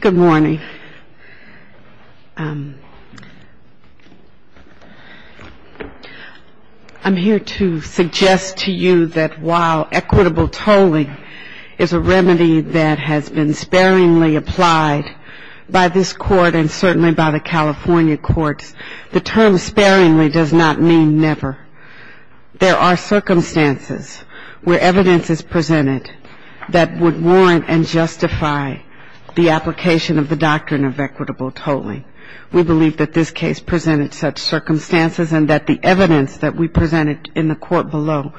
Good morning. I'm here to suggest to you that while equitable tolling is a remedy that has been sparingly applied by this court and certainly by the California courts, the term sparingly does not mean never. There are circumstances where evidence is presented that would warrant and justify the application of the doctrine of equitable tolling. We believe that this case presented such circumstances and that the evidence that we presented in the court below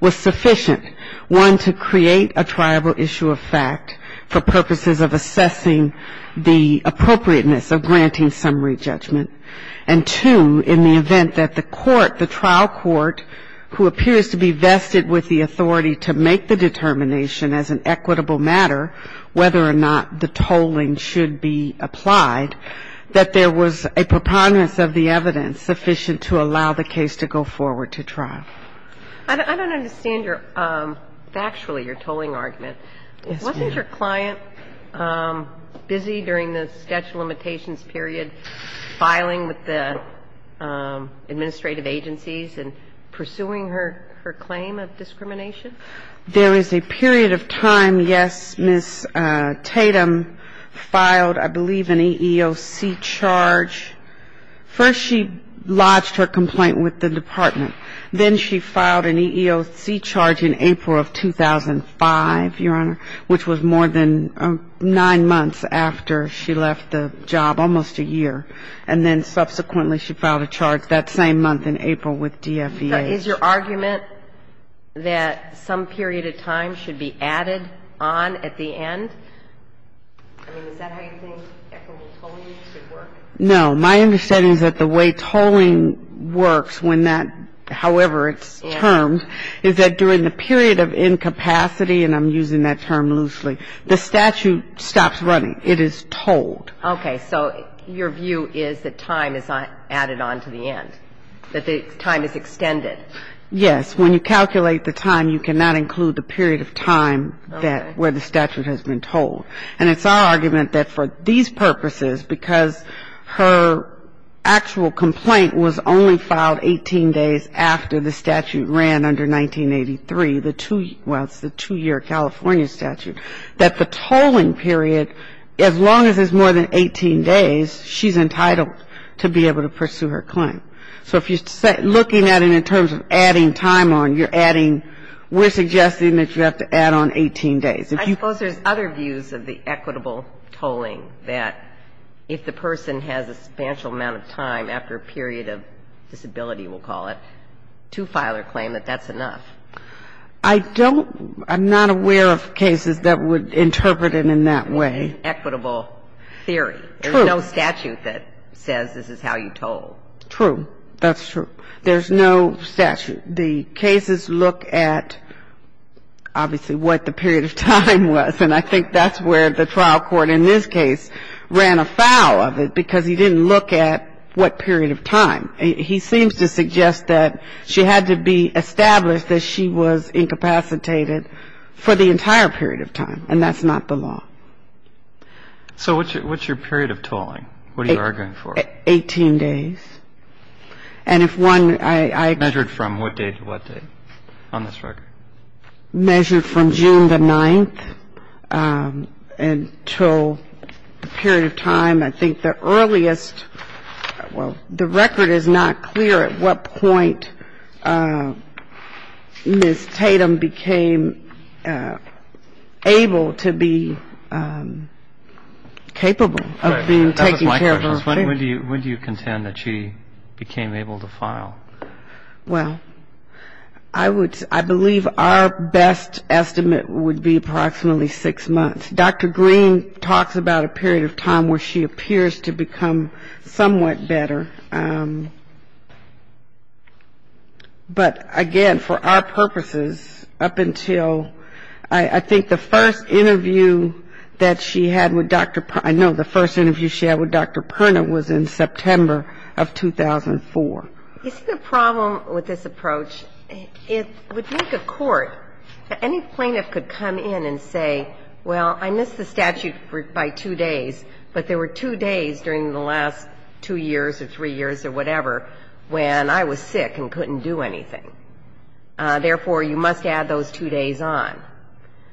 was sufficient, one, to create a triable issue of fact for purposes of assessing the appropriateness of granting summary judgment, and two, in the event that the court, the trial court, who appears to be vested with the authority to make the determination as an equitable matter whether or not the tolling should be applied, that there was a preponderance of the evidence sufficient to allow the case to go forward to trial. I don't understand your, factually, your tolling argument. Yes, ma'am. Wasn't your client busy during the statute of limitations period filing with the administrative agencies and pursuing her claim of discrimination? There is a period of time, yes, Ms. Tatum filed, I believe, an EEOC charge. First she lodged her complaint with the department. Then she filed an EEOC charge in April of 2005, Your Honor, which was more than nine months after she left the job, almost a year. And then subsequently she filed a charge that same month in April with DFEA. Is your argument that some period of time should be added on at the end? I mean, is that how you think equitable tolling should work? No. My understanding is that the way tolling works when that, however it's termed, is that during the period of incapacity, and I'm using that term loosely, the statute stops running. It is tolled. Okay. So your view is that time is added on to the end, that the time is extended. Yes. When you calculate the time, you cannot include the period of time that where the statute has been tolled. And it's our argument that for these purposes, because her actual complaint was only filed 18 days after the statute ran under 1983, the two year, well, it's the two-year California statute, that the tolling period, as long as it's more than 18 days, she's entitled to be able to pursue her claim. So if you're looking at it in terms of adding time on, you're adding, we're suggesting that you have to add on 18 days. I suppose there's other views of the equitable tolling that if the person has a substantial amount of time after a period of disability, we'll call it, to file a claim that that's enough. I don't, I'm not aware of cases that would interpret it in that way. Equitable theory. True. There's no statute that says this is how you toll. True. That's true. There's no statute. And the cases look at, obviously, what the period of time was. And I think that's where the trial court in this case ran afoul of it, because he didn't look at what period of time. He seems to suggest that she had to be established that she was incapacitated for the entire period of time. And that's not the law. So what's your period of tolling? What are you arguing for? Eighteen days. And if one, I... Measured from what day to what day on this record? Measured from June the 9th until the period of time, I think, the earliest. Well, the record is not clear at what point Ms. Tatum became able to be capable of being taken care of. When do you contend that she became able to file? Well, I believe our best estimate would be approximately six months. Dr. Green talks about a period of time where she appears to become somewhat better. But, again, for our purposes, up until, I think the first interview that she had with Dr. Perna, I know the first interview she had with Dr. Perna was in September of 2004. You see the problem with this approach? It would make a court, any plaintiff could come in and say, well, I missed the statute by two days, but there were two days during the last two years or three years or whatever when I was sick and couldn't do anything. Therefore, you must add those two days on.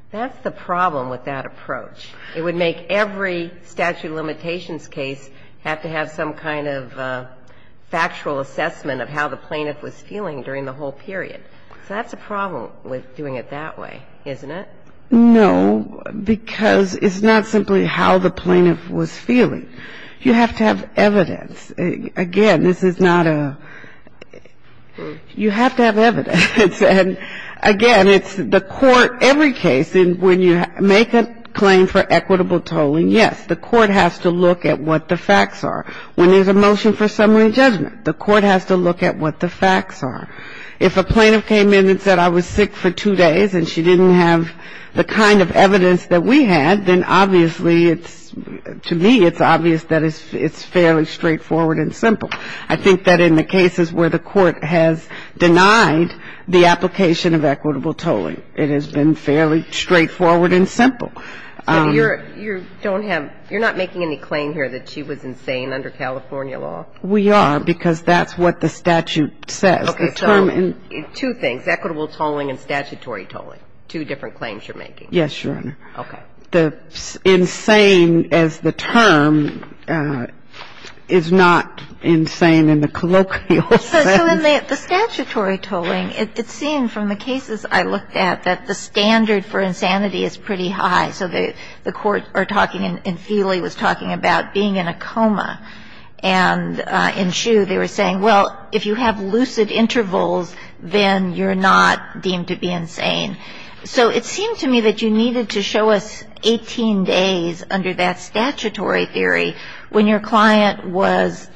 That's the problem with that approach. It would make every statute of limitations case have to have some kind of factual assessment of how the plaintiff was feeling during the whole period. So that's the problem with doing it that way, isn't it? No, because it's not simply how the plaintiff was feeling. You have to have evidence. Again, this is not a, you have to have evidence. And, again, it's the court, every case, when you make a claim for equitable tolling, yes, the court has to look at what the facts are. When there's a motion for summary judgment, the court has to look at what the facts are. If a plaintiff came in and said I was sick for two days and she didn't have the kind of evidence that we had, then obviously it's, to me, it's obvious that it's fairly straightforward and simple. I think that in the cases where the court has denied the application of equitable tolling, it has been fairly straightforward and simple. So you're, you don't have, you're not making any claim here that she was insane under California law? We are, because that's what the statute says. Okay, so two things, equitable tolling and statutory tolling, two different claims you're making. Yes, Your Honor. Okay. The insane as the term is not insane in the colloquial sense. So in the statutory tolling, it's seen from the cases I looked at that the standard for insanity is pretty high. So the court are talking, and Feely was talking about being in a coma. And in Hsu, they were saying, well, if you have lucid intervals, then you're not deemed to be insane. So it seemed to me that you needed to show us 18 days under that statutory theory when your client was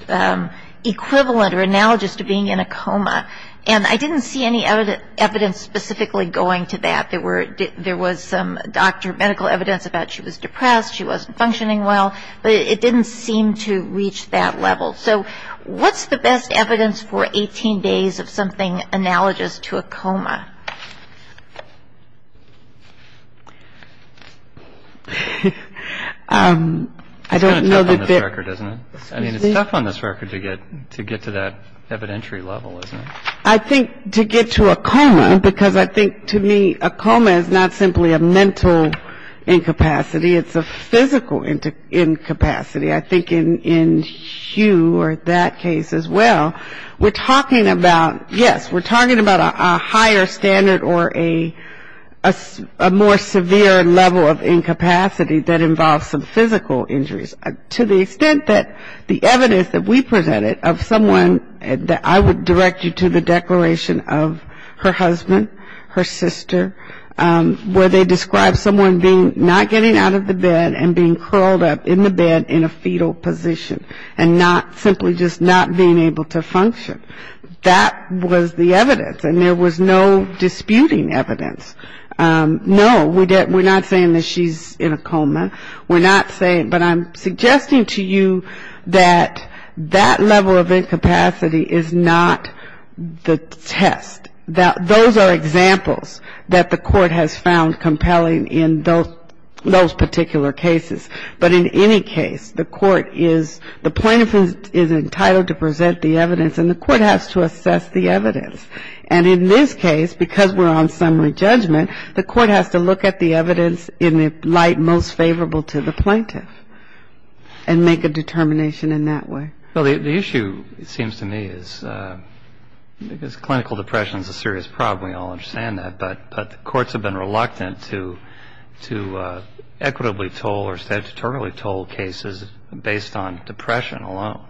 equivalent or analogous to being in a coma. And I didn't see any evidence specifically going to that. There were, there was some doctor medical evidence about she was depressed, she wasn't functioning well. But it didn't seem to reach that level. So what's the best evidence for 18 days of something analogous to a coma? I don't know that there. It's kind of tough on this record, isn't it? I mean, it's tough on this record to get to that evidentiary level, isn't it? I think to get to a coma, because I think to me a coma is not simply a mental incapacity. It's a physical incapacity. I think in Hsu or that case as well, we're talking about, yes, we're talking about a higher standard or a more severe level of incapacity that involves some physical injuries. To the extent that the evidence that we presented of someone that I would direct you to the declaration of her husband, her sister, where they describe someone being, not getting out of the bed and being curled up in the bed in a fetal position and not, simply just not being able to function. That was the evidence, and there was no disputing evidence. No, we're not saying that she's in a coma. We're not saying, but I'm suggesting to you that that level of incapacity is not the test. Those are examples that the Court has found compelling in those particular cases. But in any case, the Court is, the plaintiff is entitled to present the evidence, and the Court has to assess the evidence. And in this case, because we're on summary judgment, the Court has to look at the evidence in the light most favorable to the plaintiff and make a determination in that way. Well, the issue, it seems to me, is because clinical depression is a serious problem. We all understand that. But the courts have been reluctant to equitably toll or statutorily toll cases based on depression alone.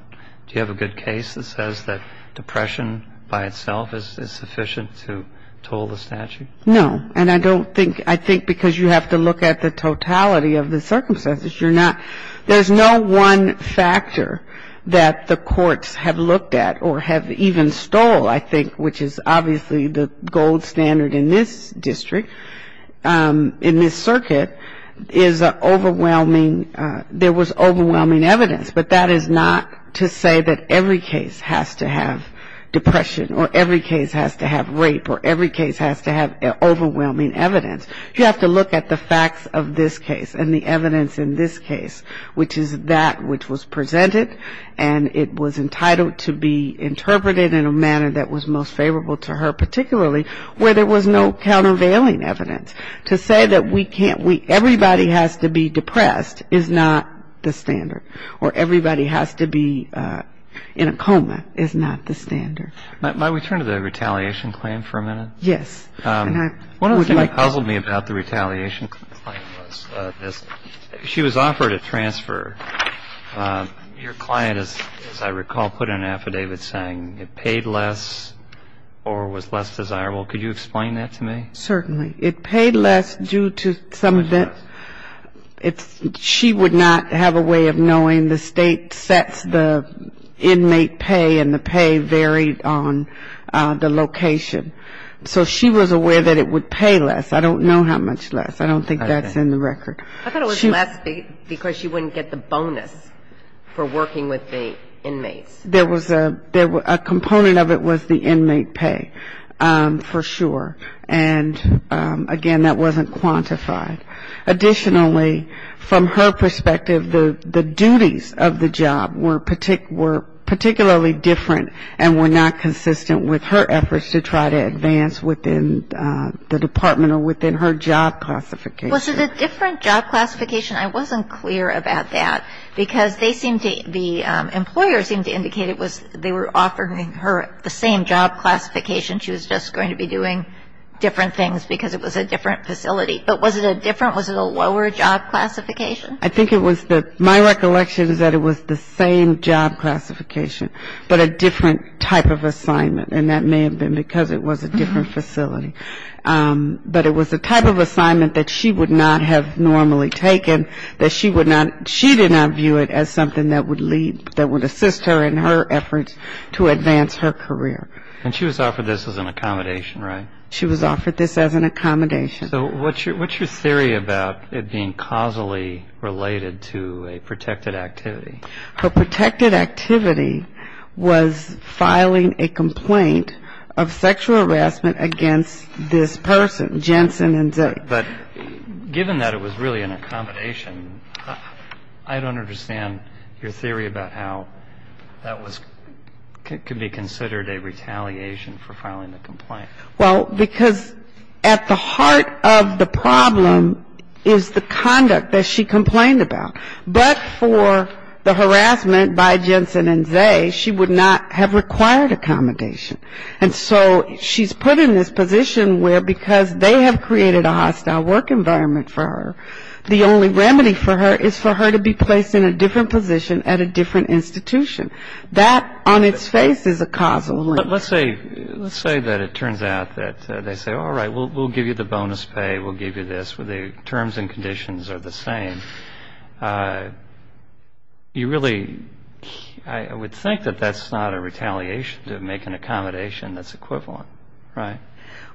Do you have a good case that says that depression by itself is sufficient to toll the statute? No. And I don't think, I think because you have to look at the totality of the circumstances. You're not, there's no one factor that the courts have looked at or have even stole, I think, which is obviously the gold standard in this district, in this circuit, is overwhelming, there was overwhelming evidence. But that is not to say that every case has to have depression or every case has to have rape or every case has to have overwhelming evidence. You have to look at the facts of this case and the evidence in this case, which is that which was presented and it was entitled to be interpreted in a manner that was most favorable to her, particularly where there was no countervailing evidence. To say that we can't, everybody has to be depressed is not the standard, or everybody has to be in a coma is not the standard. Might we turn to the retaliation claim for a minute? Yes. One of the things that puzzled me about the retaliation claim was this. She was offered a transfer. Your client, as I recall, put an affidavit saying it paid less or was less desirable. Could you explain that to me? Certainly. It paid less due to some of the, it's, she would not have a way of knowing the State sets the inmate pay and the pay varied on the location. So she was aware that it would pay less. I don't know how much less. I don't think that's in the record. I thought it was less because she wouldn't get the bonus for working with the inmates. There was a component of it was the inmate pay for sure. And, again, that wasn't quantified. Additionally, from her perspective, the duties of the job were particularly different and were not consistent with her efforts to try to advance within the department or within her job classification. Was it a different job classification? I wasn't clear about that because they seemed to, the employer seemed to indicate it was they were offering her the same job classification. She was just going to be doing different things because it was a different facility. But was it a different, was it a lower job classification? I think it was the, my recollection is that it was the same job classification but a different type of assignment. And that may have been because it was a different facility. But it was the type of assignment that she would not have normally taken, that she would not, she did not view it as something that would lead, that would assist her in her efforts to advance her career. And she was offered this as an accommodation, right? She was offered this as an accommodation. So what's your theory about it being causally related to a protected activity? Her protected activity was filing a complaint of sexual harassment against this person, Jensen and Zake. But given that it was really an accommodation, I don't understand your theory about how that was, could be considered a retaliation for filing the complaint. Well, because at the heart of the problem is the conduct that she complained about. But for the harassment by Jensen and Zake, she would not have required accommodation. And so she's put in this position where because they have created a hostile work environment for her, the only remedy for her is for her to be placed in a different position at a different institution. That on its face is a causal link. Let's say, let's say that it turns out that they say, all right, we'll give you the bonus pay, we'll give you this, the terms and conditions are the same. You really, I would think that that's not a retaliation to make an accommodation that's equivalent, right?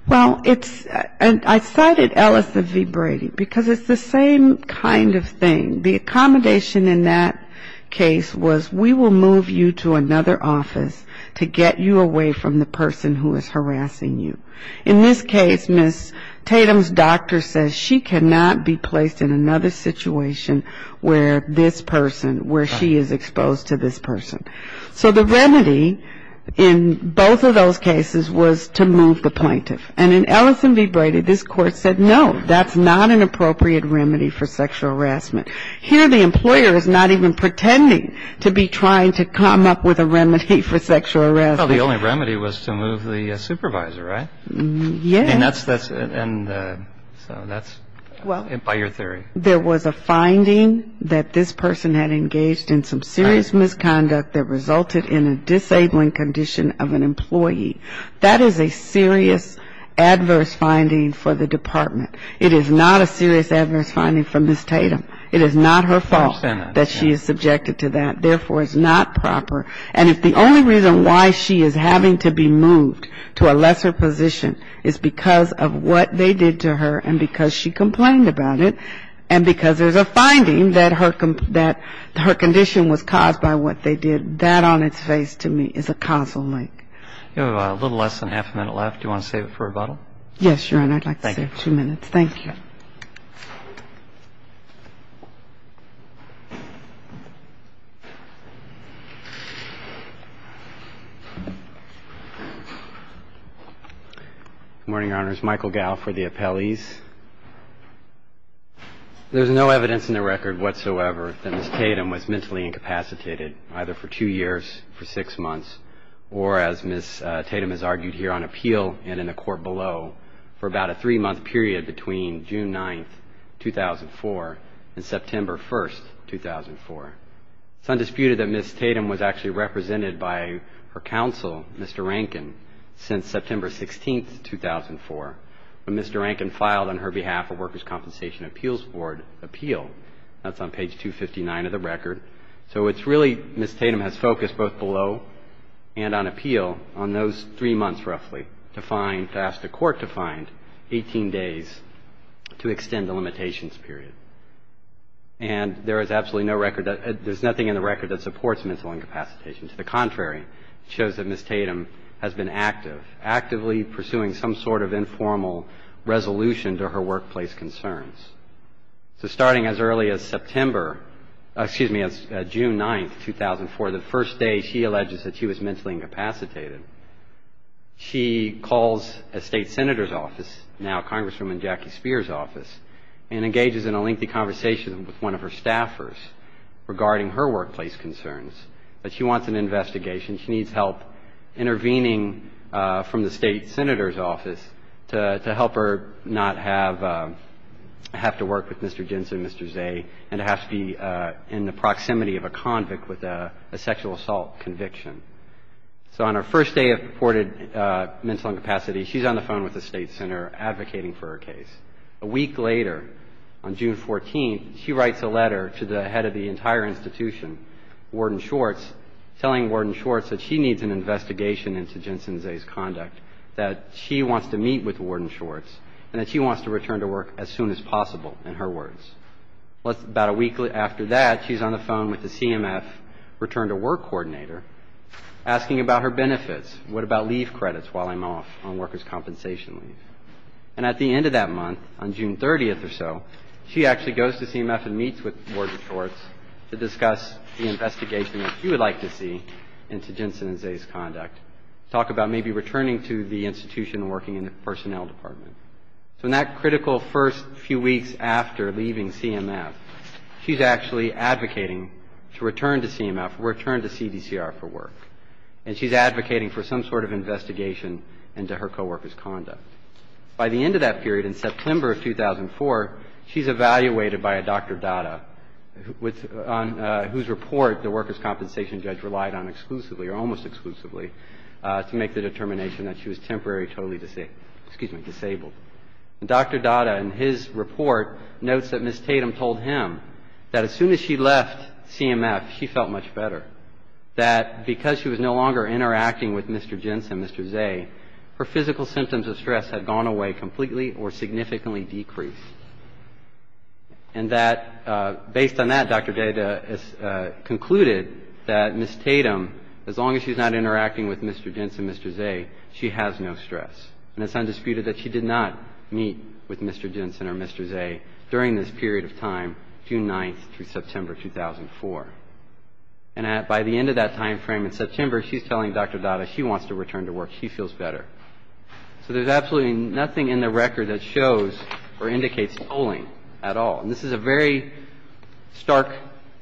Well, it's, and I cited Ellison v. Brady because it's the same kind of thing. The accommodation in that case was we will move you to another office to get you away from the person who is harassing you. In this case, Ms. Tatum's doctor says she cannot be placed in another situation where this person, where she is exposed to this person. So the remedy in both of those cases was to move the plaintiff. And in Ellison v. Brady, this Court said no, that's not an appropriate remedy for sexual harassment. Here the employer is not even pretending to be trying to come up with a remedy for sexual harassment. I thought the only remedy was to move the supervisor, right? Yes. And that's, and so that's by your theory. There was a finding that this person had engaged in some serious misconduct that resulted in a disabling condition of an employee. That is a serious adverse finding for the Department. It is not a serious adverse finding for Ms. Tatum. It is not her fault that she is subjected to that. Therefore, it's not proper. And if the only reason why she is having to be moved to a lesser position is because of what they did to her and because she complained about it and because there's a finding that her condition was caused by what they did, that on its face to me is a causal link. You have a little less than half a minute left. Do you want to save it for rebuttal? Yes, Your Honor. Thank you. Thank you. Thank you. Good morning, Your Honors. Michael Gow for the appellees. There's no evidence in the record whatsoever that Ms. Tatum was mentally incapacitated, either for two years, for six months, or as Ms. Tatum has argued here on appeal and in the court below, for about a three-month period between June 9th, 2004, and September 1st, 2004. It's undisputed that Ms. Tatum was actually represented by her counsel, Mr. Rankin, since September 16th, 2004, when Mr. Rankin filed on her behalf a Workers' Compensation Appeals Board appeal. That's on page 259 of the record. So it's really Ms. Tatum has focused both below and on appeal on those three months, roughly, to find, to ask the court to find 18 days to extend the limitations period. And there is absolutely no record, there's nothing in the record that supports mental incapacitation. To the contrary, it shows that Ms. Tatum has been active, actively pursuing some sort of informal resolution to her workplace concerns. So starting as early as September, excuse me, June 9th, 2004, the first day she alleges that she was mentally incapacitated, she calls a state senator's office, now Congresswoman Jackie Speier's office, and engages in a lengthy conversation with one of her staffers regarding her workplace concerns. But she wants an investigation, she needs help intervening from the state senator's office to help her not have to work with Mr. Jensen, Mr. Zay, and to have to be in the proximity of a convict with a sexual assault conviction. So on her first day of reported mental incapacity, she's on the phone with the state senator advocating for her case. A week later, on June 14th, she writes a letter to the head of the entire institution, Warden Schwartz, telling Warden Schwartz that she needs an investigation into Jensen Zay's conduct, that she wants to meet with Warden Schwartz, and that she wants to return to work as soon as possible, in her words. About a week after that, she's on the phone with the CMF return-to-work coordinator asking about her benefits. What about leave credits while I'm off on workers' compensation leave? And at the end of that month, on June 30th or so, she actually goes to CMF and meets with Warden Schwartz to discuss the investigation that she would like to see into Jensen and Zay's conduct, talk about maybe returning to the institution and working in the personnel department. So in that critical first few weeks after leaving CMF, she's actually advocating to return to CMF, return to CDCR for work, and she's advocating for some sort of investigation into her coworkers' conduct. By the end of that period, in September of 2004, she's evaluated by a Dr. Datta, whose report the workers' compensation judge relied on exclusively or almost exclusively to make the determination that she was temporarily totally disabled. And Dr. Datta, in his report, notes that Ms. Tatum told him that as soon as she left CMF, she felt much better, that because she was no longer interacting with Mr. Jensen, Mr. Zay, her physical symptoms of stress had gone away completely or significantly decreased, and that based on that, Dr. Datta has concluded that Ms. Tatum, as long as she's not interacting with Mr. Jensen, Mr. Zay, she has no stress. And it's undisputed that she did not meet with Mr. Jensen or Mr. Zay during this period of time, June 9th through September 2004. And by the end of that timeframe in September, she's telling Dr. Datta she wants to return to work. She feels better. So there's absolutely nothing in the record that shows or indicates tolling at all. And this is a very stark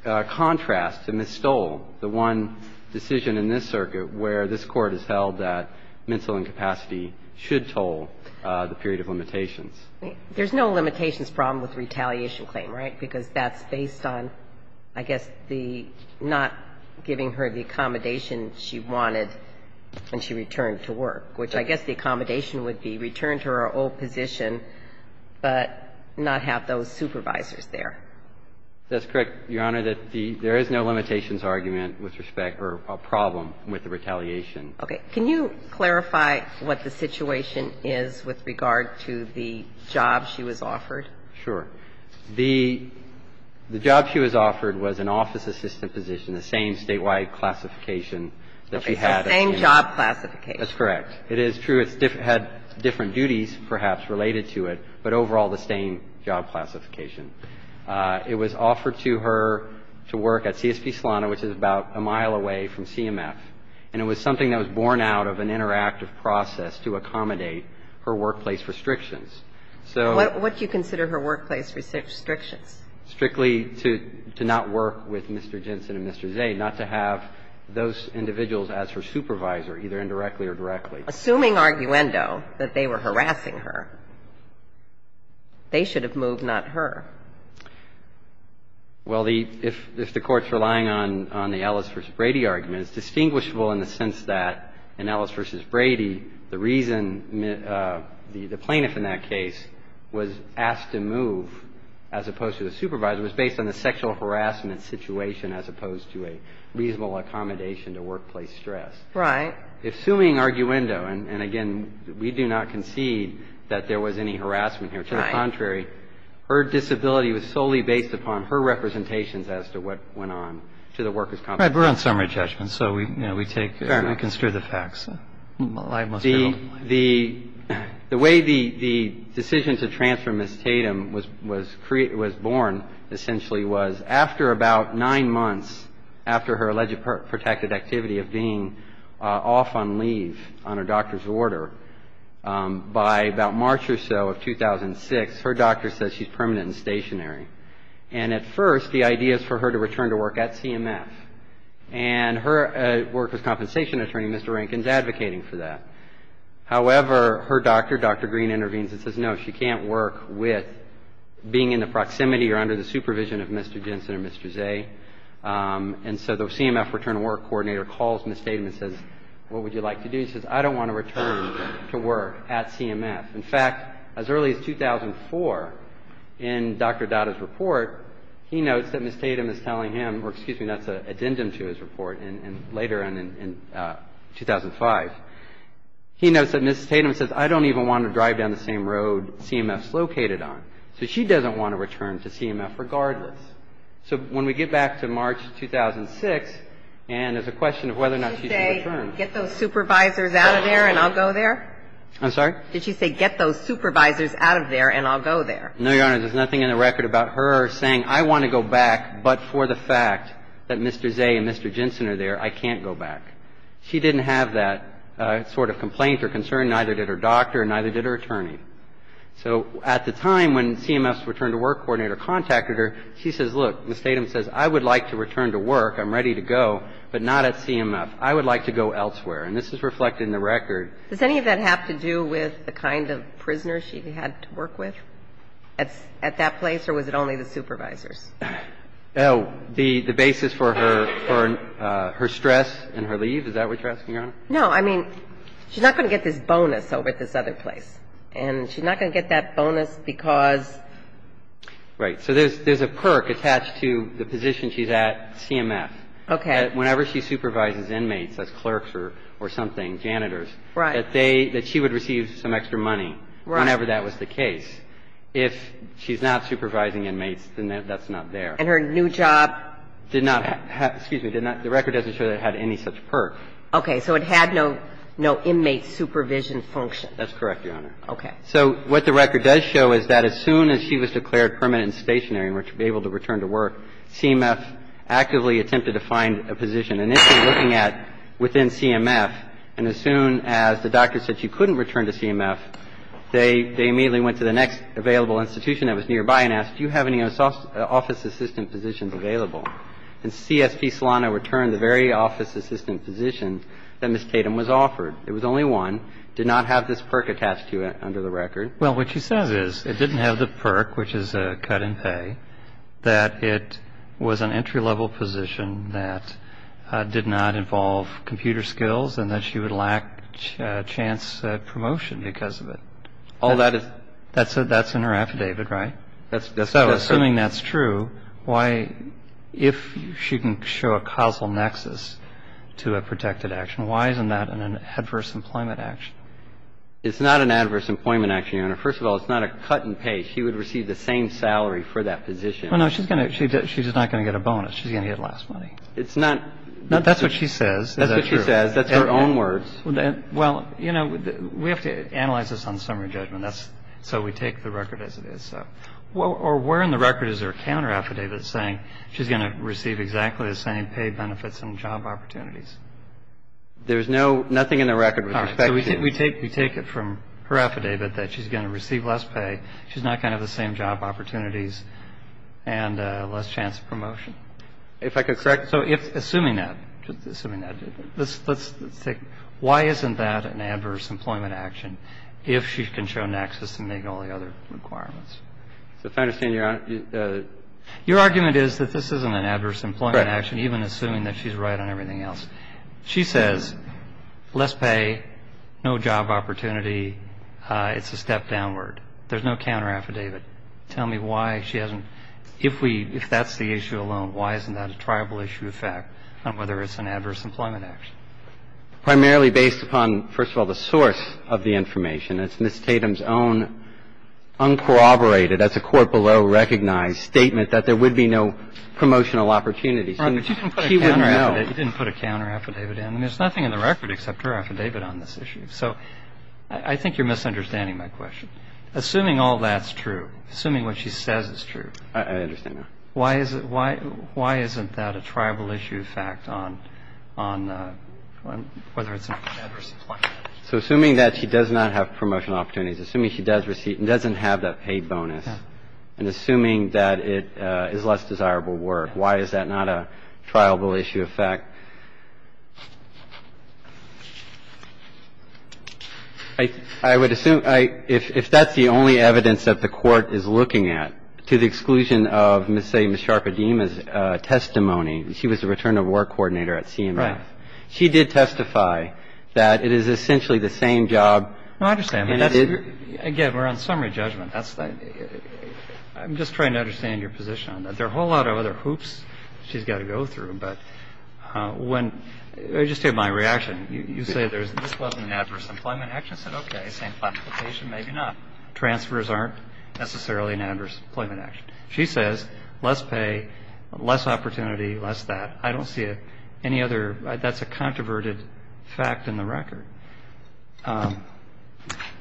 contrast to Ms. Stoll, the one decision in this circuit where this Court has held that mental incapacity should toll the period of limitations. There's no limitations problem with the retaliation claim, right? Because that's based on, I guess, the not giving her the accommodation she wanted when she returned to work, which I guess the accommodation would be return to her old position, but not have those supervisors there. That's correct, Your Honor. There is no limitations argument with respect or problem with the retaliation. Okay. Can you clarify what the situation is with regard to the job she was offered? Sure. The job she was offered was an office assistant position, the same statewide classification that she had at CMF. Okay. The same job classification. That's correct. It is true it had different duties perhaps related to it, but overall the same job classification. It was offered to her to work at CSP Solana, which is about a mile away from CMF. And it was something that was born out of an interactive process to accommodate her workplace restrictions. So what do you consider her workplace restrictions? Strictly to not work with Mr. Jensen and Mr. Zay, not to have those individuals as her supervisor, either indirectly or directly. Assuming, arguendo, that they were harassing her, they should have moved, not her. Well, if the Court's relying on the Ellis v. Brady argument, it's distinguishable in the sense that in Ellis v. Brady, the reason the plaintiff in that case was asked to move as opposed to the supervisor was based on the sexual harassment situation as opposed to a reasonable accommodation to workplace stress. Right. Assuming, arguendo, and again, we do not concede that there was any harassment here. To the contrary, her disability was solely based upon her representations as to what went on to the workers' compensation. Right. We're on summary judgment, so we take and consider the facts. The way the decision to transfer Ms. Tatum was born essentially was after about nine months after her alleged protected activity of being off on leave on her doctor's order, by about March or so of 2006, her doctor says she's permanent and stationary. And at first, the idea is for her to return to work at CMF. And her workers' compensation attorney, Mr. Rankin, is advocating for that. However, her doctor, Dr. Green, intervenes and says, no, she can't work with being in the proximity or under the supervision of Mr. Jensen or Mr. Zay. And so the CMF return to work coordinator calls Ms. Tatum and says, what would you like to do? He says, I don't want to return to work at CMF. In fact, as early as 2004, in Dr. Dada's report, he notes that Ms. Tatum is telling him, or excuse me, that's an addendum to his report, and later in 2005, he notes that Ms. Tatum says, I don't even want to drive down the same road CMF's located on. So she doesn't want to return to CMF regardless. So when we get back to March 2006, and there's a question of whether or not she should return. Ginsburg-McGill. Did she say, get those supervisors out of there and I'll go there? I'm sorry? Did she say, get those supervisors out of there and I'll go there? No, Your Honor. In the record, Ms. Tatum's not saying anything about her saying, I want to go back, but for the fact that Mr. Zay and Mr. Jensen are there, I can't go back. She didn't have that sort of complaint or concern. Neither did her doctor and neither did her attorney. So at the time when CMF's return to work coordinator contacted her, she says, look, Ms. Tatum says, I would like to return to work, I'm ready to go, but not at CMF. I would like to go elsewhere. And this is reflected in the record. Does any of that have to do with the kind of prisoners she had to work with at that place or was it only the supervisors? Oh, the basis for her stress and her leave, is that what you're asking, Your Honor? No. I mean, she's not going to get this bonus over at this other place. And she's not going to get that bonus because. Right. So there's a perk attached to the position she's at CMF. Okay. Whenever she supervises inmates as clerks or something, janitors. Right. That they, that she would receive some extra money. Right. Whenever that was the case. If she's not supervising inmates, then that's not there. And her new job. Did not have, excuse me, did not, the record doesn't show that it had any such perk. Okay. So it had no, no inmate supervision function. That's correct, Your Honor. Okay. So what the record does show is that as soon as she was declared permanent and stationary and was able to return to work, CMF actively attempted to find a position. And this is looking at within CMF. And as soon as the doctor said she couldn't return to CMF, they immediately went to the next available institution that was nearby and asked, do you have any office assistant positions available? And CSP Solano returned the very office assistant position that Ms. Tatum was offered. It was only one. Did not have this perk attached to it under the record. Well, what she says is it didn't have the perk, which is a cut in pay, that it was an entry-level position that did not involve computer skills and that she would lack chance promotion because of it. All that is. That's in her affidavit, right? That's correct. So assuming that's true, why, if she can show a causal nexus to a protected action, why isn't that an adverse employment action? It's not an adverse employment action, Your Honor. First of all, it's not a cut in pay. She would receive the same salary for that position. Well, no, she's going to, she's not going to get a bonus. She's going to get less money. It's not. That's what she says. That's what she says. That's her own words. Well, you know, we have to analyze this on summary judgment. That's, so we take the record as it is, so. Or where in the record is her counter affidavit saying she's going to receive exactly the same pay, benefits and job opportunities? There is no, nothing in the record with respect to. We take, we take it from her affidavit that she's going to receive less pay. She's not going to have the same job opportunities and less chance of promotion. If I could correct. So if, assuming that, assuming that, let's take, why isn't that an adverse employment action if she can show nexus and make all the other requirements? If I understand Your Honor. Your argument is that this isn't an adverse employment action, even assuming that she's right on everything else. She says less pay, no job opportunity, it's a step downward. There's no counter affidavit. Tell me why she hasn't, if we, if that's the issue alone, why isn't that a triable issue of fact on whether it's an adverse employment action? Primarily based upon, first of all, the source of the information. It's Ms. Tatum's own uncorroborated, as the Court below recognized, statement that there would be no promotional opportunities. She wouldn't know. You didn't put a counter affidavit in. I mean, there's nothing in the record except her affidavit on this issue. So I think you're misunderstanding my question. Assuming all that's true, assuming what she says is true. I understand that. Why is it, why, why isn't that a triable issue of fact on, on whether it's an adverse employment action? So assuming that she does not have promotional opportunities, assuming she does receive, doesn't have that pay bonus, and assuming that it is less desirable work, why is that not a triable issue of fact? I would assume, if that's the only evidence that the Court is looking at, to the exclusion of, say, Ms. Sharpe-Adima's testimony, she was the return of work coordinator at CMS. Right. She did testify that it is essentially the same job. No, I understand. But that's, again, we're on summary judgment. That's, I'm just trying to understand your position on that. There are a whole lot of other hoops she's got to go through. But when, just take my reaction, you say there's, this wasn't an adverse employment action. I said, okay, same classification, maybe not. Transfers aren't necessarily an adverse employment action. She says less pay, less opportunity, less that. I don't see any other, that's a controverted fact in the record. Go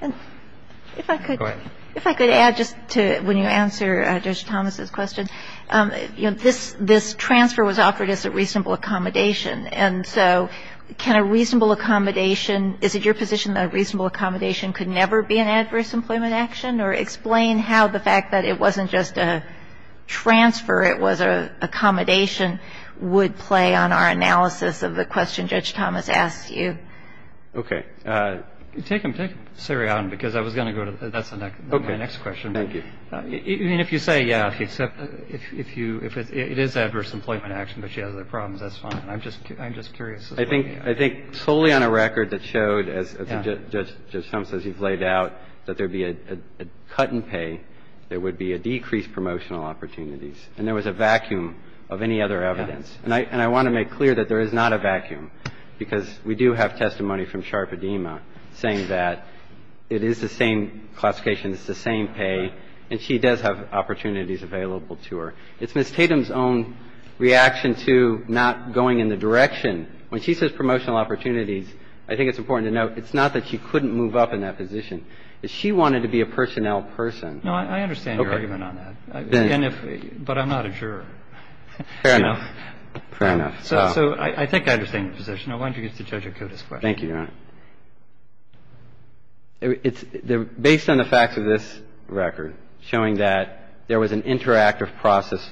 ahead. If I could add just to, when you answer Judge Thomas' question, you know, this transfer was offered as a reasonable accommodation. And so can a reasonable accommodation, is it your position that a reasonable accommodation could never be an adverse employment action? Or explain how the fact that it wasn't just a transfer, it was an accommodation, would play on our analysis of the question Judge Thomas asked you. Okay. Take them, take them, because I was going to go to, that's my next question. Thank you. I mean, if you say, yeah, if it is adverse employment action, but she has other problems, that's fine. I'm just curious. I think solely on a record that showed, as Judge Thomas says you've laid out, that there would be a cut in pay, there would be a decrease in promotional opportunities. And there was a vacuum of any other evidence. And I want to make clear that there is not a vacuum, because we do have testimony from Sharpe-Edema saying that it is the same classification, it's the same pay, and she does have opportunities available to her. It's Ms. Tatum's own reaction to not going in the direction. When she says promotional opportunities, I think it's important to note it's not that she couldn't move up in that position. It's she wanted to be a personnel person. No, I understand your argument on that. And if, but I'm not a juror. Fair enough. Fair enough. So I think I understand your position. I want you to get to Judge Akuta's question. Thank you, Your Honor. It's based on the facts of this record showing that there was an interactive process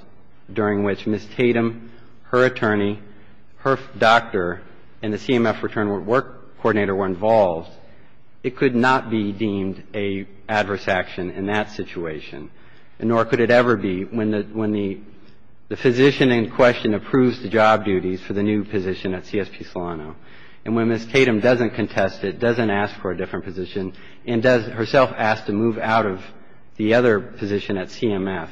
during which Ms. Tatum, her attorney, her doctor, and the CMF return work coordinator were involved, it could not be deemed a adverse action in that situation, and nor could it ever be when the physician in question approves the job duties for the new position at CSP Solano. And when Ms. Tatum doesn't contest it, doesn't ask for a different position, and does herself ask to move out of the other position at CMF.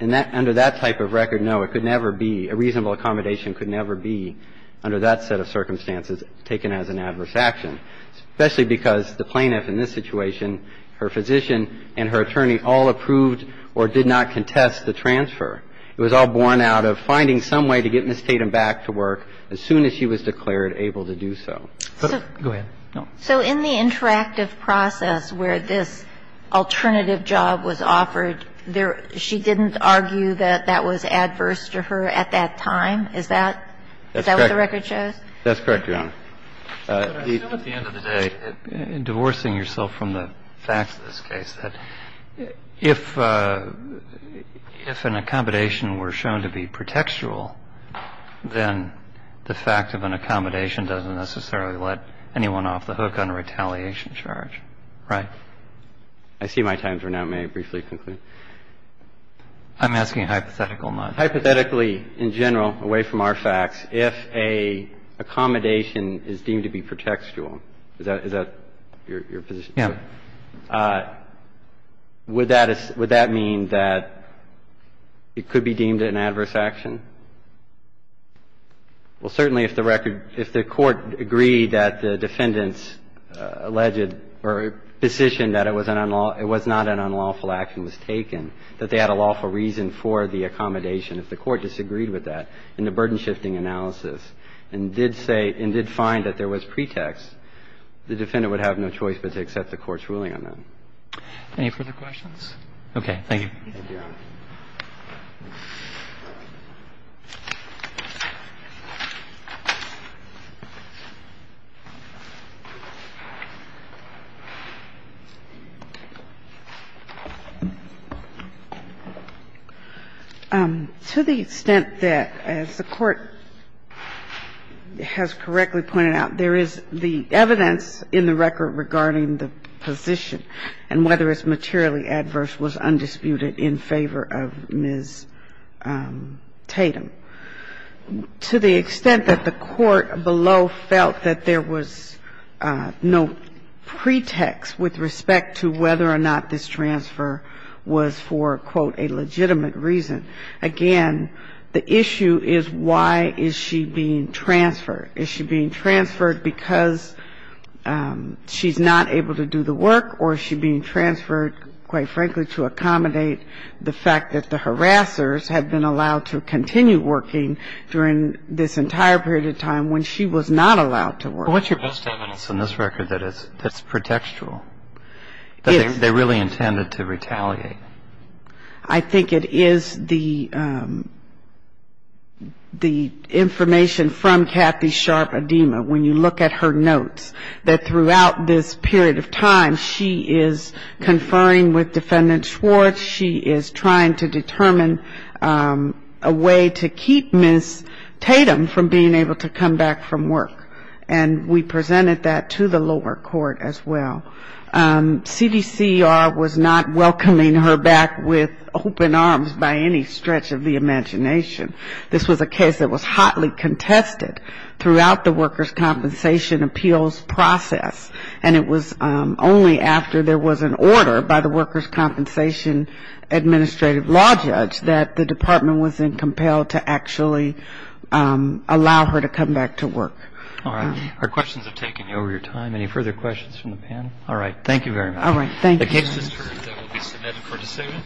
And under that type of record, no, it could never be, a reasonable accommodation could never be, under that set of circumstances, taken as an adverse action, especially because the plaintiff in this situation, her physician, and her attorney all approved or did not contest the transfer. It was all borne out of finding some way to get Ms. Tatum back to work as soon as she was declared able to do so. Go ahead. So in the interactive process where this alternative job was offered, there, she didn't argue that that was adverse to her at that time? Is that, is that what the record shows? That's correct, Your Honor. I assume at the end of the day, divorcing yourself from the facts of this case, that if an accommodation were shown to be pretextual, then the fact of an accommodation doesn't necessarily let anyone off the hook on a retaliation charge. Right. I see my time's run out. May I briefly conclude? I'm asking hypothetically, not. In our facts, if an accommodation is deemed to be pretextual, is that your position? Yeah. Would that mean that it could be deemed an adverse action? Well, certainly if the record, if the Court agreed that the defendant's alleged or position that it was not an unlawful action was taken, that they had a lawful reason for the accommodation, if the Court disagreed with that in the burden-shifting analysis and did say and did find that there was pretext, the defendant would have no choice but to accept the Court's ruling on that. Any further questions? Thank you. Thank you, Your Honor. To the extent that, as the Court has correctly pointed out, there is the evidence in the record regarding the position and whether it's materially adverse was undisputed in favor of Ms. Tatum. To the extent that the Court below felt that there was no pretext with respect to whether or not this transfer was for, quote, a legitimate reason, again, the issue is why is she being transferred. Is she being transferred because she's not able to do the work or is she being transferred, quite frankly, to accommodate the fact that the harassers had been allowed to continue working during this entire period of time when she was not allowed to work? What's your best evidence in this record that it's pretextual, that they really intended to retaliate? I think it is the information from Kathy Sharp Adema. When you look at her notes, that throughout this period of time, she is conferring with Defendant Schwartz. She is trying to determine a way to keep Ms. Tatum from being able to come back from work. And we presented that to the lower court as well. CDCER was not welcoming her back with open arms by any stretch of the imagination. This was a case that was hotly contested throughout the workers' compensation appeals process. And it was only after there was an order by the workers' compensation administrative law judge that the department was then compelled to actually allow her to come back to work. All right. Our questions have taken over your time. Any further questions from the panel? All right. Thank you very much. All right. Thank you. The case is adjourned. That will be submitted for dissemination.